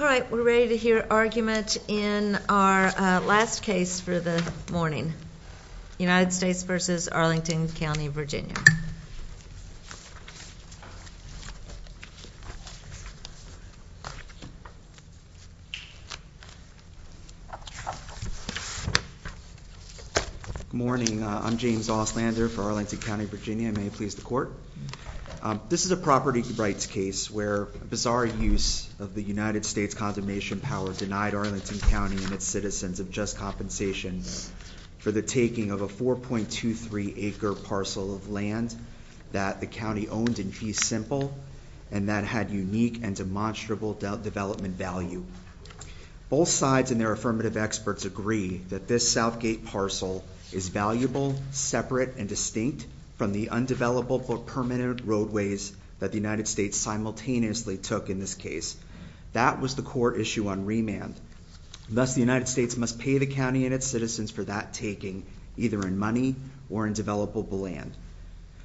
All right, we're ready to hear argument in our last case for the morning. United States v. Arlington County, Virginia. Morning, I'm James Auslander for Arlington County, Virginia. May it please the court. This is a property rights case where a bizarre use of the United States' condemnation power denied Arlington County and its citizens of just compensation for the taking of a 4.23 acre parcel of land that the county owned in fee simple and that had unique and demonstrable development value. Both sides and their affirmative experts agree that this Southgate parcel is valuable, separate and distinct from the undeveloped or permanent roadways that the United States simultaneously took in this case. That was the court issue on remand. Thus, the United States must pay the county and its citizens for that taking either in money or in developable land.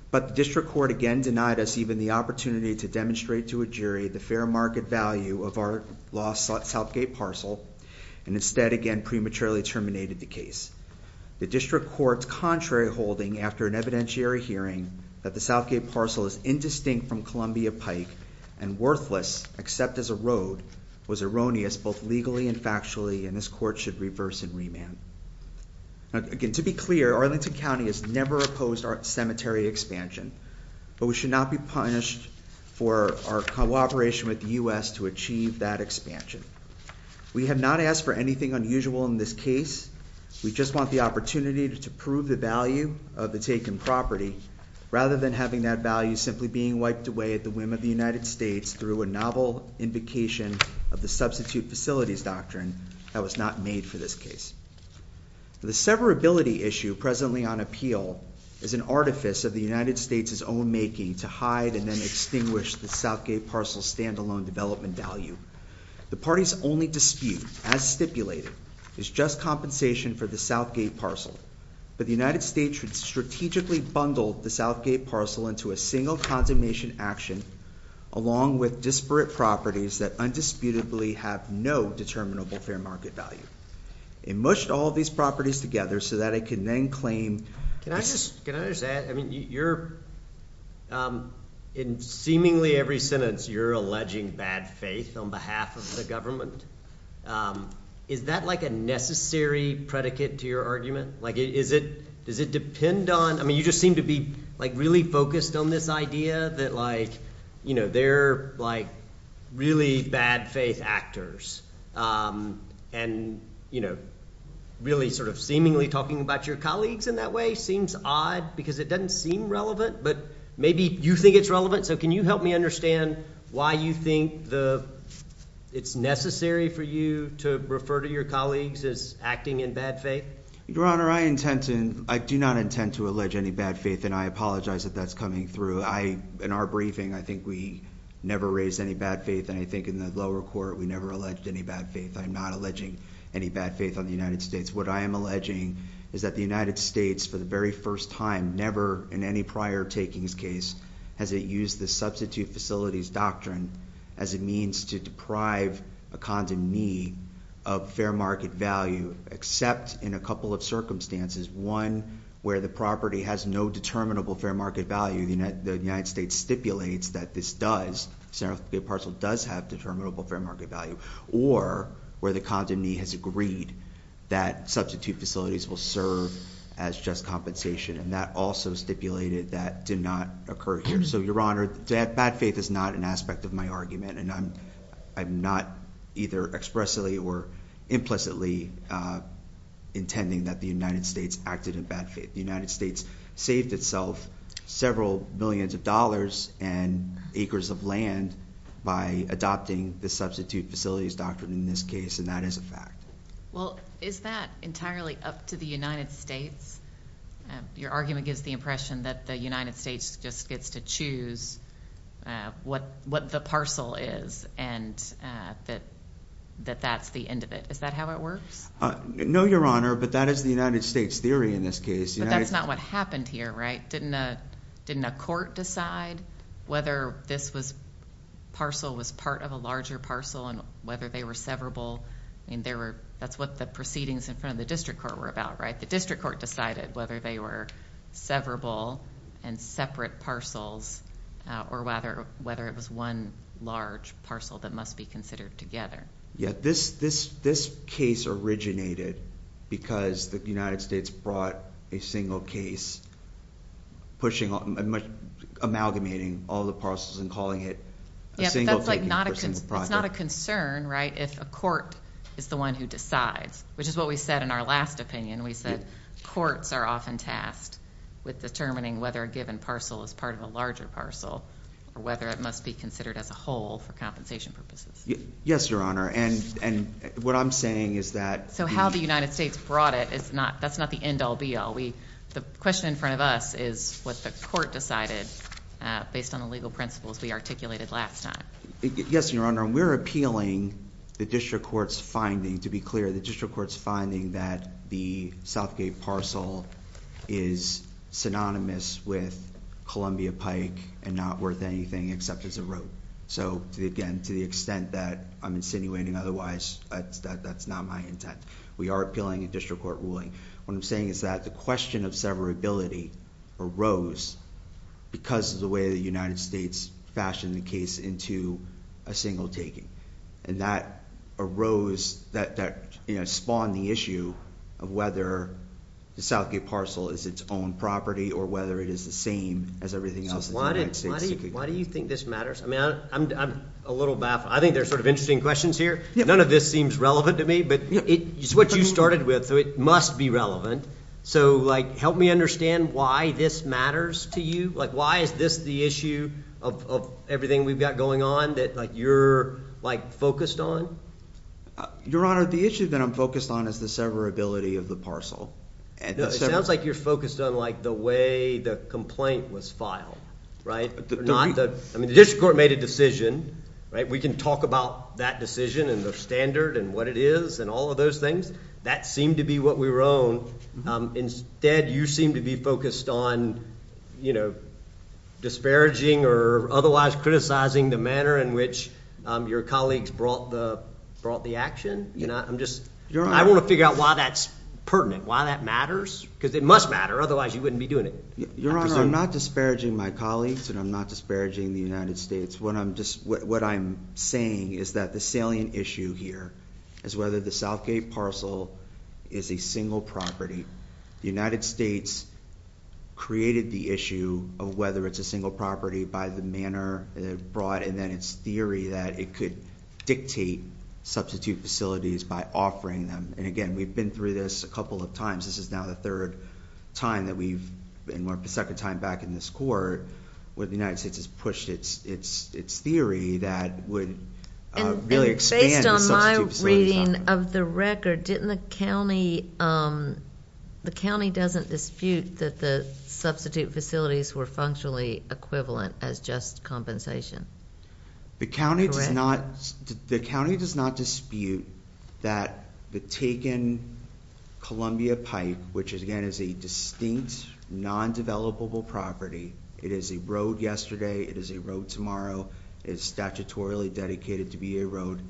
But the district court again denied us even the opportunity to demonstrate to a jury the fair market value of our lost Southgate parcel and instead again prematurely terminated the case. The district court's contrary holding after an evidentiary hearing that the Southgate parcel is indistinct from Columbia Pike and worthless except as a road was erroneous both legally and factually and this court should reverse and remand. Again, to be clear, Arlington County has never opposed our cemetery expansion, but we should not be punished for our cooperation with the U.S. to achieve that expansion. We have not asked for anything unusual in this case. We just want the opportunity to prove the value of the taken property rather than having that value simply being wiped away at the whim of the United States through a novel invocation of the substitute facilities doctrine that was not made for this case. The severability issue presently on appeal is an artifice of the United States' own making to hide and then extinguish the Southgate parcel's standalone development value. The party's only dispute, as stipulated, is just compensation for the Southgate parcel, but the United States should strategically bundle the Southgate parcel into a single condemnation action along with disparate properties that undisputably have no determinable fair market value. It mushed all these properties together so that it can then claim... Can I just, can I just add, I mean you're, in seemingly every sentence you're alleging bad faith on behalf of the government. Is that like a necessary predicate to your argument? Like is it, does it depend on, I mean you just seem to be like really focused on this idea that like you know they're like really bad faith actors and you know really sort of seemingly talking about your colleagues in that way seems odd because it doesn't seem relevant but maybe you think it's relevant so can you help me understand why you think the it's necessary for you to refer to your colleagues as acting in bad faith? Your Honor, I intend to, I do not intend to allege any bad faith and I apologize that that's coming through. I, in our briefing, I think we never raised any bad faith and I think in the lower court we never alleged any bad faith. I'm not alleging any bad faith on the United States. What I am alleging is that the United States for the very first time, never in any prior takings case, has it used the substitute facilities doctrine as a means to deprive a condomnee of fair market value except in a couple of circumstances. One, where the property has no determinable fair market value, the United States stipulates that this does, the parcel does have determinable fair market value, or where the condomnee has agreed that substitute facilities will serve as just compensation and that also stipulated that did not occur here. So, Your Honor, that bad faith is not an aspect of my argument and I'm not either expressly or implicitly intending that the United States acted in bad faith. The United States saved itself several millions of dollars and acres of land by adopting the substitute facilities doctrine in this case and that is a fact. Well, is that entirely up to the United States? Your argument gives the impression that the United States just gets to choose what the parcel is and that that's the end of it. Is that how it works? No, Your Honor, but that is the United States theory in this case. But that's not what happened here, right? Didn't a court decide whether this parcel was part of a larger parcel and whether they were severable? That's what the proceedings in front of the district court were about, right? The district court decided whether they were severable and separate parcels or whether it was one large parcel that must be considered together. Yeah, this case originated because the United States brought a single case pushing, amalgamating all the parcels and calling it a single taking. It's not a concern, right? If a court is the one who decides, which is what we said in our last opinion. We said courts are often tasked with determining whether a given parcel is part of a larger parcel or whether it must be considered as a whole for compensation purposes. Yes, Your Honor. And what I'm saying is that so how the United States brought it is not that's not the end all be all. We the question in front of us is what the court decided based on the legal principles we articulated last time. Yes, Your Honor. And we're appealing the district court's finding. To be clear, the district court's finding that the Southgate parcel is synonymous with Columbia Pike and not worth anything except as a road. So again, to the extent that I'm insinuating otherwise, that's not my intent. We are appealing a district court ruling. What I'm saying is that the question of severability arose because of the way the United States fashioned the case into a single taking. And that arose that spawned the issue of whether the Southgate parcel is its own property or whether it is the same as everything else. Why do you think this matters? I mean, I'm a little baffled. I think there's sort of interesting questions here. None of this seems relevant to me, but it's what you started with. So it must be relevant. So, like, help me understand why this matters to you. Like, why is this the issue of everything we've got going on that you're like focused on? Your Honor, the issue that I'm focused on is the severability of the parcel. It sounds like you're focused on, like the way the complaint was filed, right? I mean, the district court made a decision, right? We can talk about that decision and the standard and what it is and all of those things that seemed to be what we were own. Instead, you seem to be focused on, you know, disparaging or otherwise criticizing the manner in which your colleagues brought the brought the action. You know, I'm just I want to figure out why that's pertinent, why that matters because it must matter. Otherwise you wouldn't be doing it. Your Honor, I'm not disparaging my colleagues and I'm not disparaging the United States. What I'm just what I'm saying is that the issue here is whether the Southgate parcel is a single property. The United States created the issue of whether it's a single property by the manner brought and then it's theory that it could dictate substitute facilities by offering them. And again, we've been through this a couple of times. This is now the third time that we've been more of a second time back in this court where the United States has pushed its its its theory that would really expand on my reading of the record. Didn't the county? Um, the county doesn't dispute that the substitute facilities were functionally equivalent as just compensation. The county does not. The county does not dispute that the taken Columbia Pike, which is again is a distinct non developable property. It is a road yesterday. It is a road tomorrow is statutorily dedicated to be a road.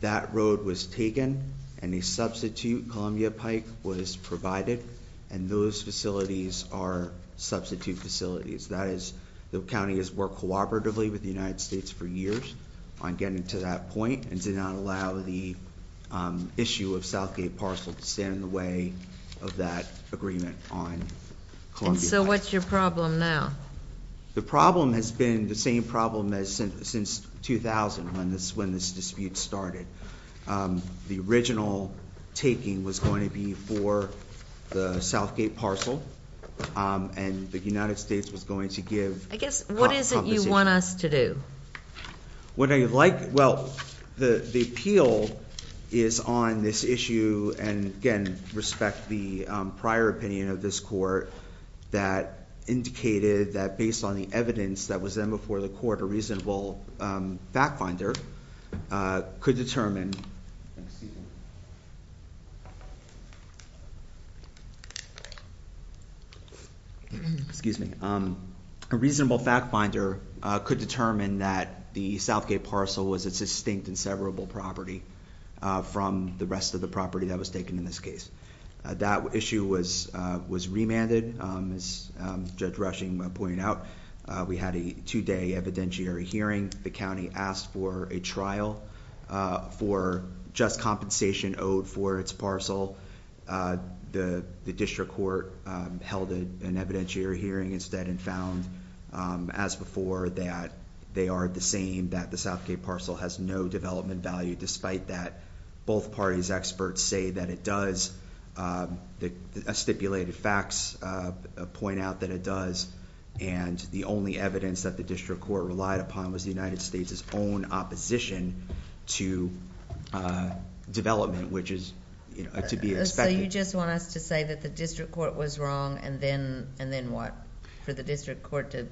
That road was taken and a substitute Columbia Pike was provided and those facilities are substitute facilities. That is the county has worked cooperatively with the United States for years on getting to that point and did not allow the, um, issue of Southgate parcel to stand in the way of that agreement on Columbia. So what's your problem now? The problem has been the same problem as since since 2000. When this, when this dispute started, um, the original taking was going to be for the Southgate parcel. Um, and the United States was going to give, I guess, what is it the appeal is on this issue. And again, respect the prior opinion of this court that indicated that based on the evidence that was then before the court, a reasonable, um, fact finder, uh, could determine excuse me. Um, a reasonable fact finder could determine that the Southgate parcel was its distinct and severable property from the rest of the property that was taken in this case. That issue was, uh, was remanded. Um, as Judge Rushing pointed out, we had a two day evidentiary hearing. The county asked for a trial, uh, for just compensation owed for its parcel. Uh, the district court held an evidentiary hearing instead and found, um, as before that they are the same, that the Southgate parcel has no development value. Despite that, both parties' experts say that it does. Um, the stipulated facts, uh, point out that it does. And the only evidence that the district court relied upon was the United States' own opposition to, uh, development, which is, you know, to be expected. So you just want us to say that the district court was wrong and then, and then what? For the district court to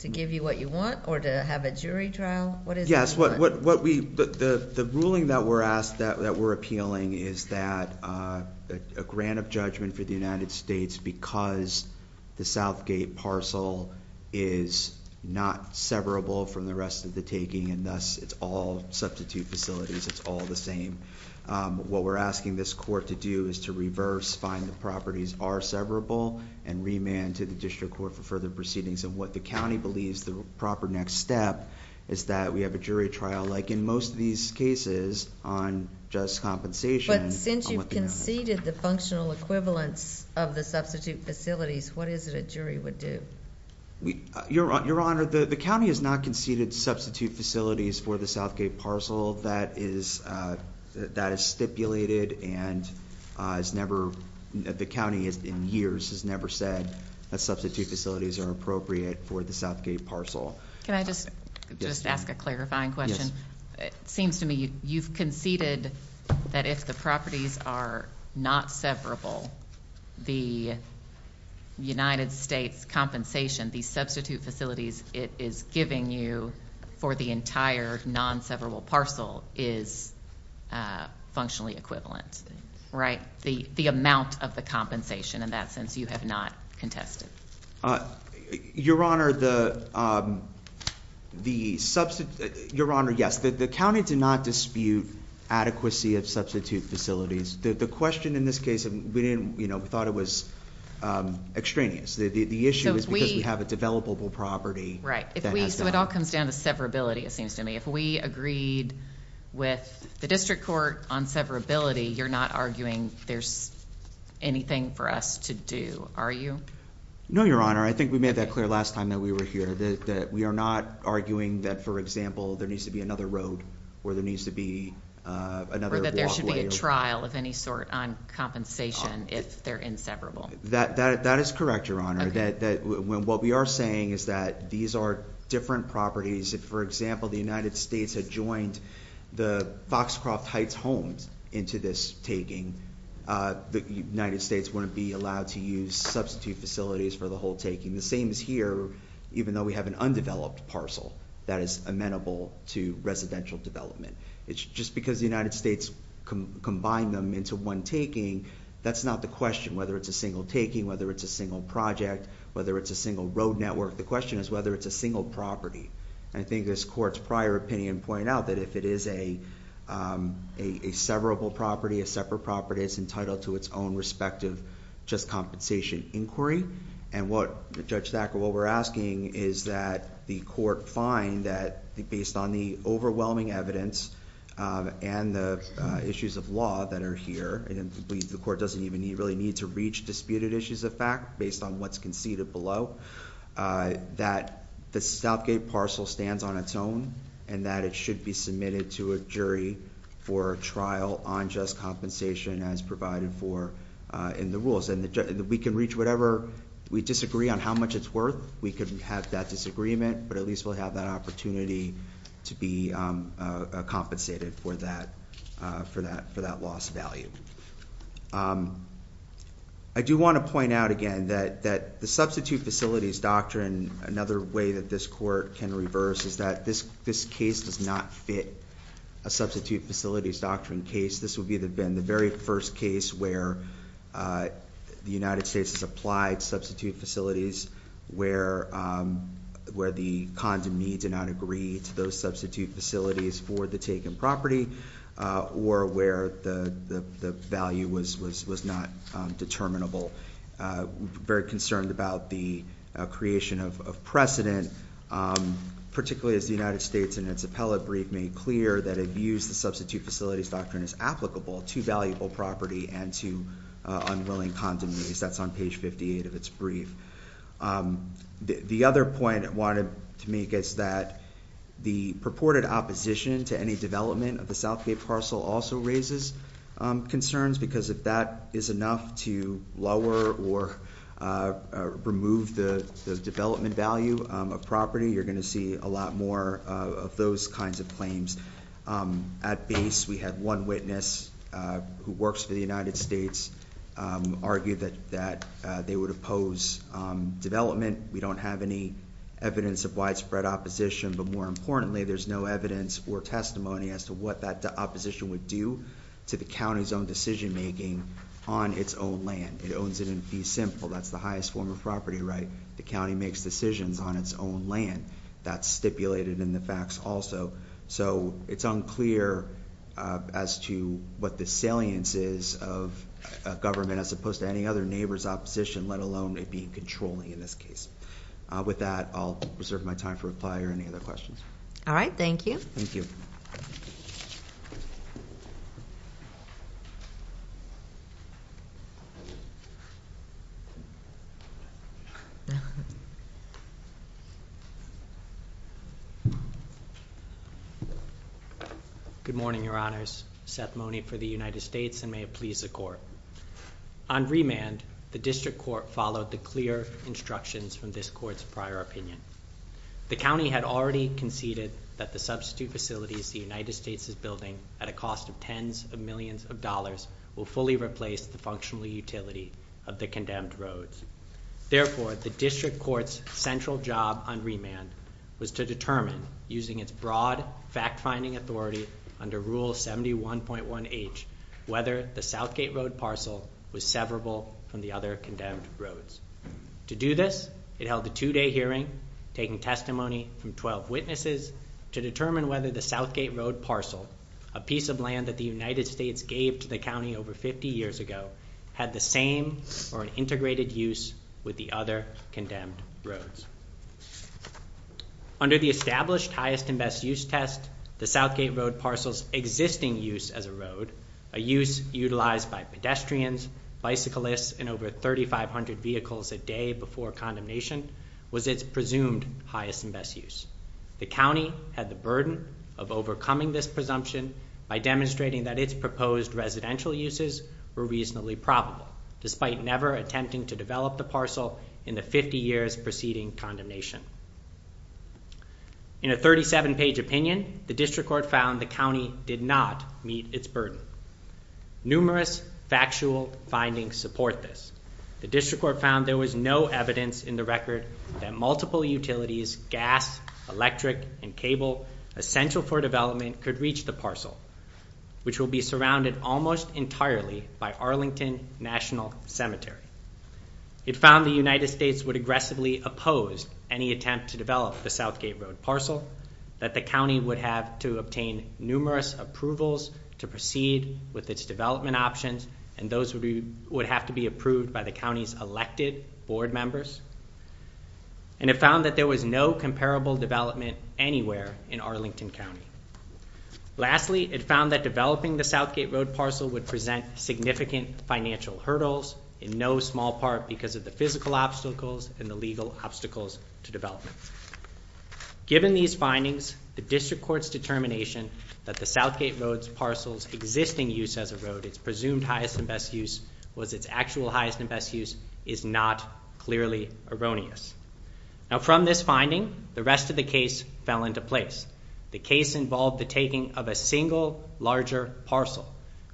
to give you what you want or to have a jury trial? What is it? Yes. What? What? What? We? But the ruling that we're asked that we're appealing is that, uh, a grant of judgment for the United States because the Southgate parcel is not severable from the rest of the taking. And thus, it's all substitute facilities. It's all the same. Um, what we're asking this court to do is to reverse, find the properties are severable and remand to the district court for further proceedings. And what the county believes the proper next step is that we have a jury trial, like in most of these cases on just compensation. But since you conceded the functional equivalence of the substitute facilities, what is it a jury would do? You're you're honored. The county has not conceded substitute facilities for Southgate parcel. That is, uh, that is stipulated. And, uh, it's never the county is in years has never said that substitute facilities are appropriate for the Southgate parcel. Can I just just ask a clarifying question? It seems to me you've conceded that if the properties are not severable, the United States compensation, the substitute facilities it is giving you for the entire non severable parcel is, uh, functionally equivalent, right? The amount of the compensation in that sense you have not contested. Uh, your honor, the, um, the substitute your honor. Yes, the county did not dispute adequacy of substitute facilities. The question in this case, we didn't, you know, we thought it was, um, extraneous. The issue is we have a developable property, right? So it all comes down to severability. It seems to me if we agreed with the district court on severability, you're not arguing there's anything for us to do. Are you? No, your honor. I think we made that clear last time that we were here that we are not arguing that, for example, there needs to be another road where there needs to be another trial of any sort on compensation. If they're inseparable, that that is correct. Your that when what we are saying is that these are different properties. If, for example, the United States had joined the Foxcroft Heights homes into this taking, uh, the United States wouldn't be allowed to use substitute facilities for the whole taking the same is here, even though we have an undeveloped parcel that is amenable to residential development. It's just because the United States combine them into one taking. That's not the whether it's a single taking, whether it's a single project, whether it's a single road network. The question is whether it's a single property. I think this court's prior opinion point out that if it is a, um, a severable property, a separate property is entitled to its own respective just compensation inquiry. And what the judge that what we're asking is that the court find that based on the overwhelming evidence on the issues of law that are here and the court doesn't even really need to reach disputed issues of fact based on what's conceded below, uh, that the South Gate parcel stands on its own and that it should be submitted to a jury for a trial on just compensation as provided for in the rules and we can reach whatever we disagree on how much it's worth. We couldn't have that disagreement, but at least we'll have that opportunity to be compensated for that, for that, for that loss of value. Um, I do want to point out again that that the substitute facilities doctrine, another way that this court can reverse is that this this case does not fit a substitute facilities doctrine case. This would be the been the very first case where, uh, the United States has applied substitute facilities where, um, where the condom needs and not agree to those substitute facilities for the taken property or where the value was was was not determinable. Uh, very concerned about the creation of precedent. Um, particularly as the United States and its appellate brief made clear that abuse the substitute facilities doctrine is applicable to valuable property and to unwilling condom use. That's on page 58 of its brief. Um, the other point I wanted to make is that the purported opposition to any development of the Southgate parcel also raises concerns because if that is enough to lower or, uh, remove the development value of property, you're going to see a lot more of those kinds of claims. Um, at base, we had one witness who works for the United States, um, argued that that they would oppose development. We don't have any evidence of widespread opposition. But more importantly, there's no evidence or testimony as to what that opposition would do to the county's own decision making on its own land. It owns it and be simple. That's the highest form of property, right? The county makes decisions on its own land that stipulated in the facts also. So it's unclear as to what the salience is of government as opposed to any other neighbors opposition, let alone it being controlling in this case. With that, I'll reserve my time for reply or any other questions. All right. Thank you. Good morning, Your Honors. Seth Mone for the United States and may it please the court. On remand, the district court followed the clear instructions from this court's prior opinion. The county had already conceded that the substitute facilities the United States is building at a cost of tens of millions of dollars will fully replace the functional utility of the condemned roads. Therefore, the district court's central job on remand was to determine using its broad fact finding authority under Rule 71.1 H. Whether the Southgate Road parcel was severable from the other condemned roads. To do this, it held a two day hearing, taking testimony from 12 witnesses to determine whether the Southgate Road parcel, a piece of land that the United States gave to the county over 50 years ago, had the same or an integrated use with the other condemned roads under the established highest and best use test. The Southgate Road parcels existing use as a road, a use utilized by pedestrians, bicyclists and over 3500 vehicles a day before condemnation was its presumed highest and best use. The county had the burden of overcoming this presumption by demonstrating that its proposed residential uses were reasonably probable, despite never attempting to develop the parcel in the 50 years preceding condemnation. In a 37 page opinion, the district court found the county did not meet its burden. Numerous factual findings support this. The district court found there was no evidence in the record that multiple utilities, gas, electric and cable essential for development could reach the parcel, which will be surrounded almost entirely by Arlington National Cemetery. It found the United attempt to develop the Southgate Road parcel that the county would have to obtain numerous approvals to proceed with its development options, and those would be would have to be approved by the county's elected board members. And it found that there was no comparable development anywhere in Arlington County. Lastly, it found that developing the Southgate Road parcel would present significant financial hurdles in no small part because of the physical obstacles and the legal obstacles to development. Given these findings, the district court's determination that the Southgate Road parcel's existing use as a road, its presumed highest and best use, was its actual highest and best use is not clearly erroneous. Now, from this finding, the rest of the case fell into place. The case involved the taking of a single larger parcel,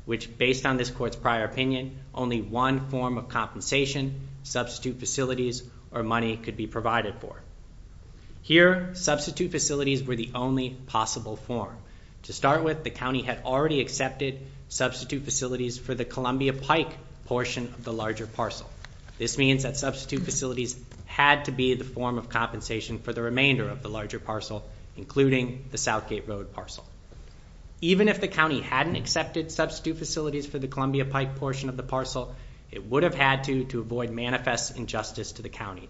which based on this court's prior opinion, only one form of compensation, substitute facilities or money could be provided for here. Substitute facilities were the only possible form. To start with, the county had already accepted substitute facilities for the Columbia Pike portion of the larger parcel. This means that substitute facilities had to be the form of compensation for the remainder of the larger parcel, including the Southgate Road parcel. Even if the county hadn't accepted substitute facilities for the Columbia Pike portion of the parcel, it would have had to, to avoid manifest injustice to the county.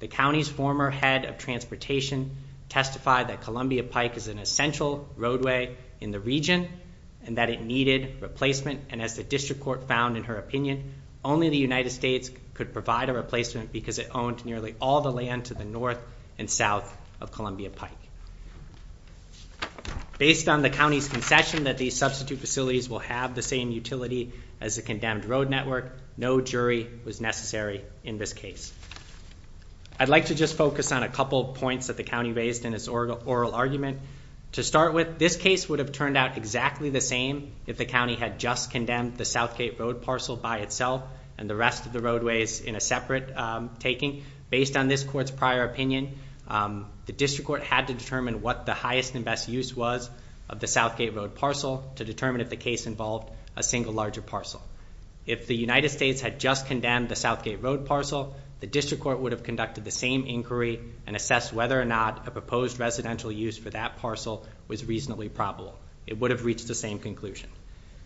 The county's former head of transportation testified that Columbia Pike is an essential roadway in the region and that it needed replacement. And as the district court found in her opinion, only the United States could provide a replacement because it owned nearly all the land to the north and south of Columbia Pike. Based on the county's concession that these substitute facilities will have the same utility as a condemned road network, no jury was necessary in this case. I'd like to just focus on a couple of points that the county raised in its oral argument. To start with, this case would have turned out exactly the same if the county had just condemned the Southgate Road parcel by itself and the rest of the roadways in a separate taking. Based on this court's prior opinion, the district court had to determine what the highest and best use was of the Southgate Road parcel to determine if the case involved a single larger parcel. If the United States had just condemned the Southgate Road parcel, the district court would have conducted the same inquiry and assess whether or not a proposed residential use for that parcel was reasonably probable. It would have reached the same conclusion.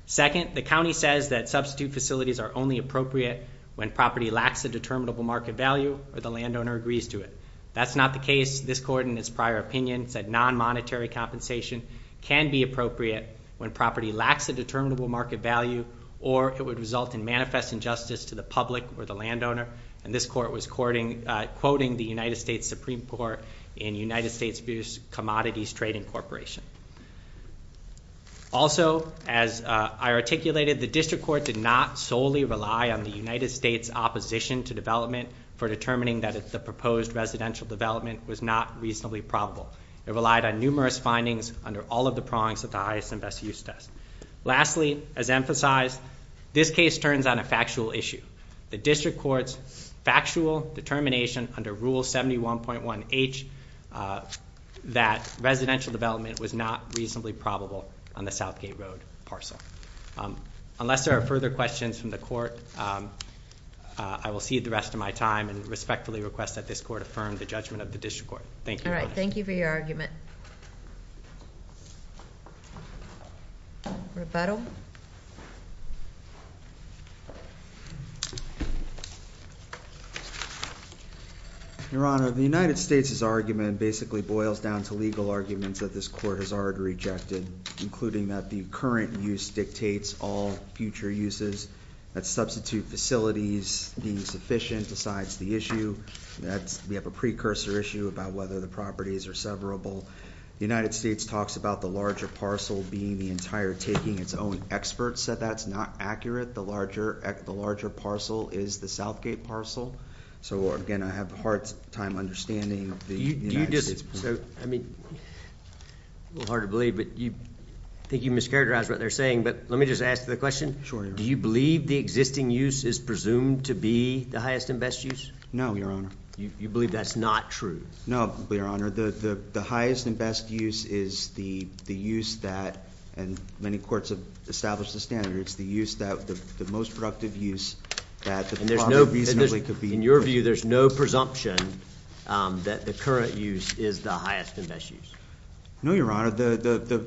Second, the county says that substitute facilities are only appropriate when property lacks a determinable market value or the landowner agrees to it. That's not the case. This court, in its prior opinion, said non-monetary compensation can be appropriate when property lacks a determinable market value or it would result in manifest injustice to the public or the landowner. And this court was quoting the United States Supreme Court in United States Abuse Commodities Trading Corporation. Also, as I articulated, the district court did not solely rely on the United States opposition to development for determining that the proposed residential development was not reasonably probable. It relied on numerous findings under all of the prongs of the highest and best use test. Lastly, as emphasized, this case turns on a factual issue. The district court's factual determination under Rule 71.1H that residential development was not reasonably probable on the Southgate Road parcel. Unless there are further questions from the court, I will cede the rest of my time and respectfully request that this court affirm the judgment of the district court. Thank you. All right. Thank you for your argument. Rebuttal. Your Honor, the United States' argument basically boils down to legal arguments that this court has already rejected, including that the current use dictates all future uses, that substitute facilities being sufficient decides the issue, that we have a precursor issue about whether the properties are severable. The United States talks about the larger parcel being the entire taking its own. Experts said that's not accurate. The larger parcel is the Southgate parcel. So, again, I have a hard time understanding the United States. It's a little hard to believe, but I think you mischaracterized what they're saying. But let me just ask the question. Do you believe the existing use is presumed to be the highest and best use? No, Your Honor. You believe that's not true? No, Your Honor. The highest and best use is the use that, and many courts have established the standard, it's the use that the most productive use that the property reasonably could be. In your view, there's no presumption that the current use is the highest and best use? No, Your Honor.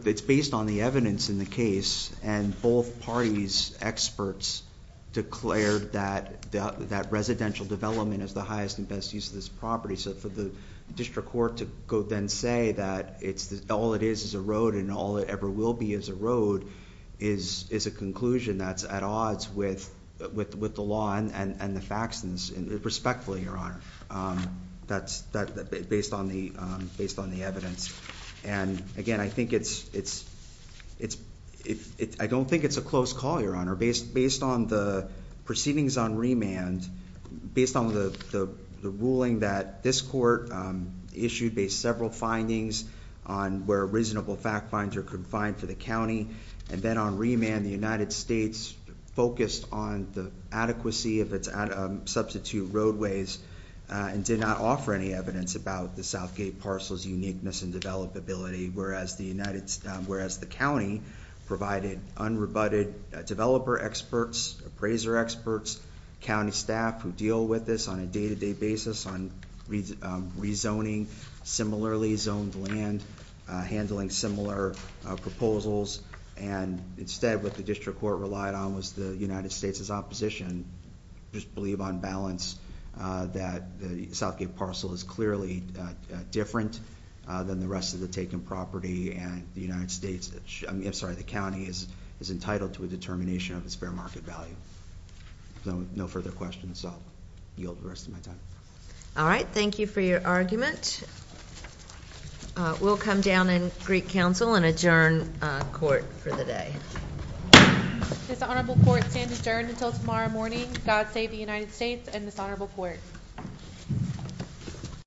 It's based on the evidence in the case, and both parties, experts, declared that residential development is the highest and best use of this property. So for the district court to go then say that all it is is a road, and all it ever will be is a road, is a conclusion that's at odds with the law and the facts, and respectfully, Your Honor, based on the evidence. And again, I think it's... I don't think it's a close call, Your Honor. Based on the proceedings on remand, based on the ruling that this court issued based several findings on where reasonable fact finds are confined to the county, and then on remand, the United States focused on the adequacy of its substitute roadways and did not offer any evidence about the Southgate parcel's uniqueness and developability, whereas the county provided unrebutted developer experts, appraiser experts, county staff who deal with this on a day to day basis on rezoning similarly zoned land, handling similar proposals, and instead what the district court relied on was the United States' opposition. I just believe on balance that the Southgate parcel is clearly different than the rest of the taken property, and the United States... I'm sorry, the county is entitled to a determination of its fair market value. No further questions. I'll yield the rest of my time. All right. Thank you for your argument. We'll come down in Greek Council and adjourn court for the day. Dishonorable court stands adjourned until tomorrow morning. God save the United States and dishonorable court.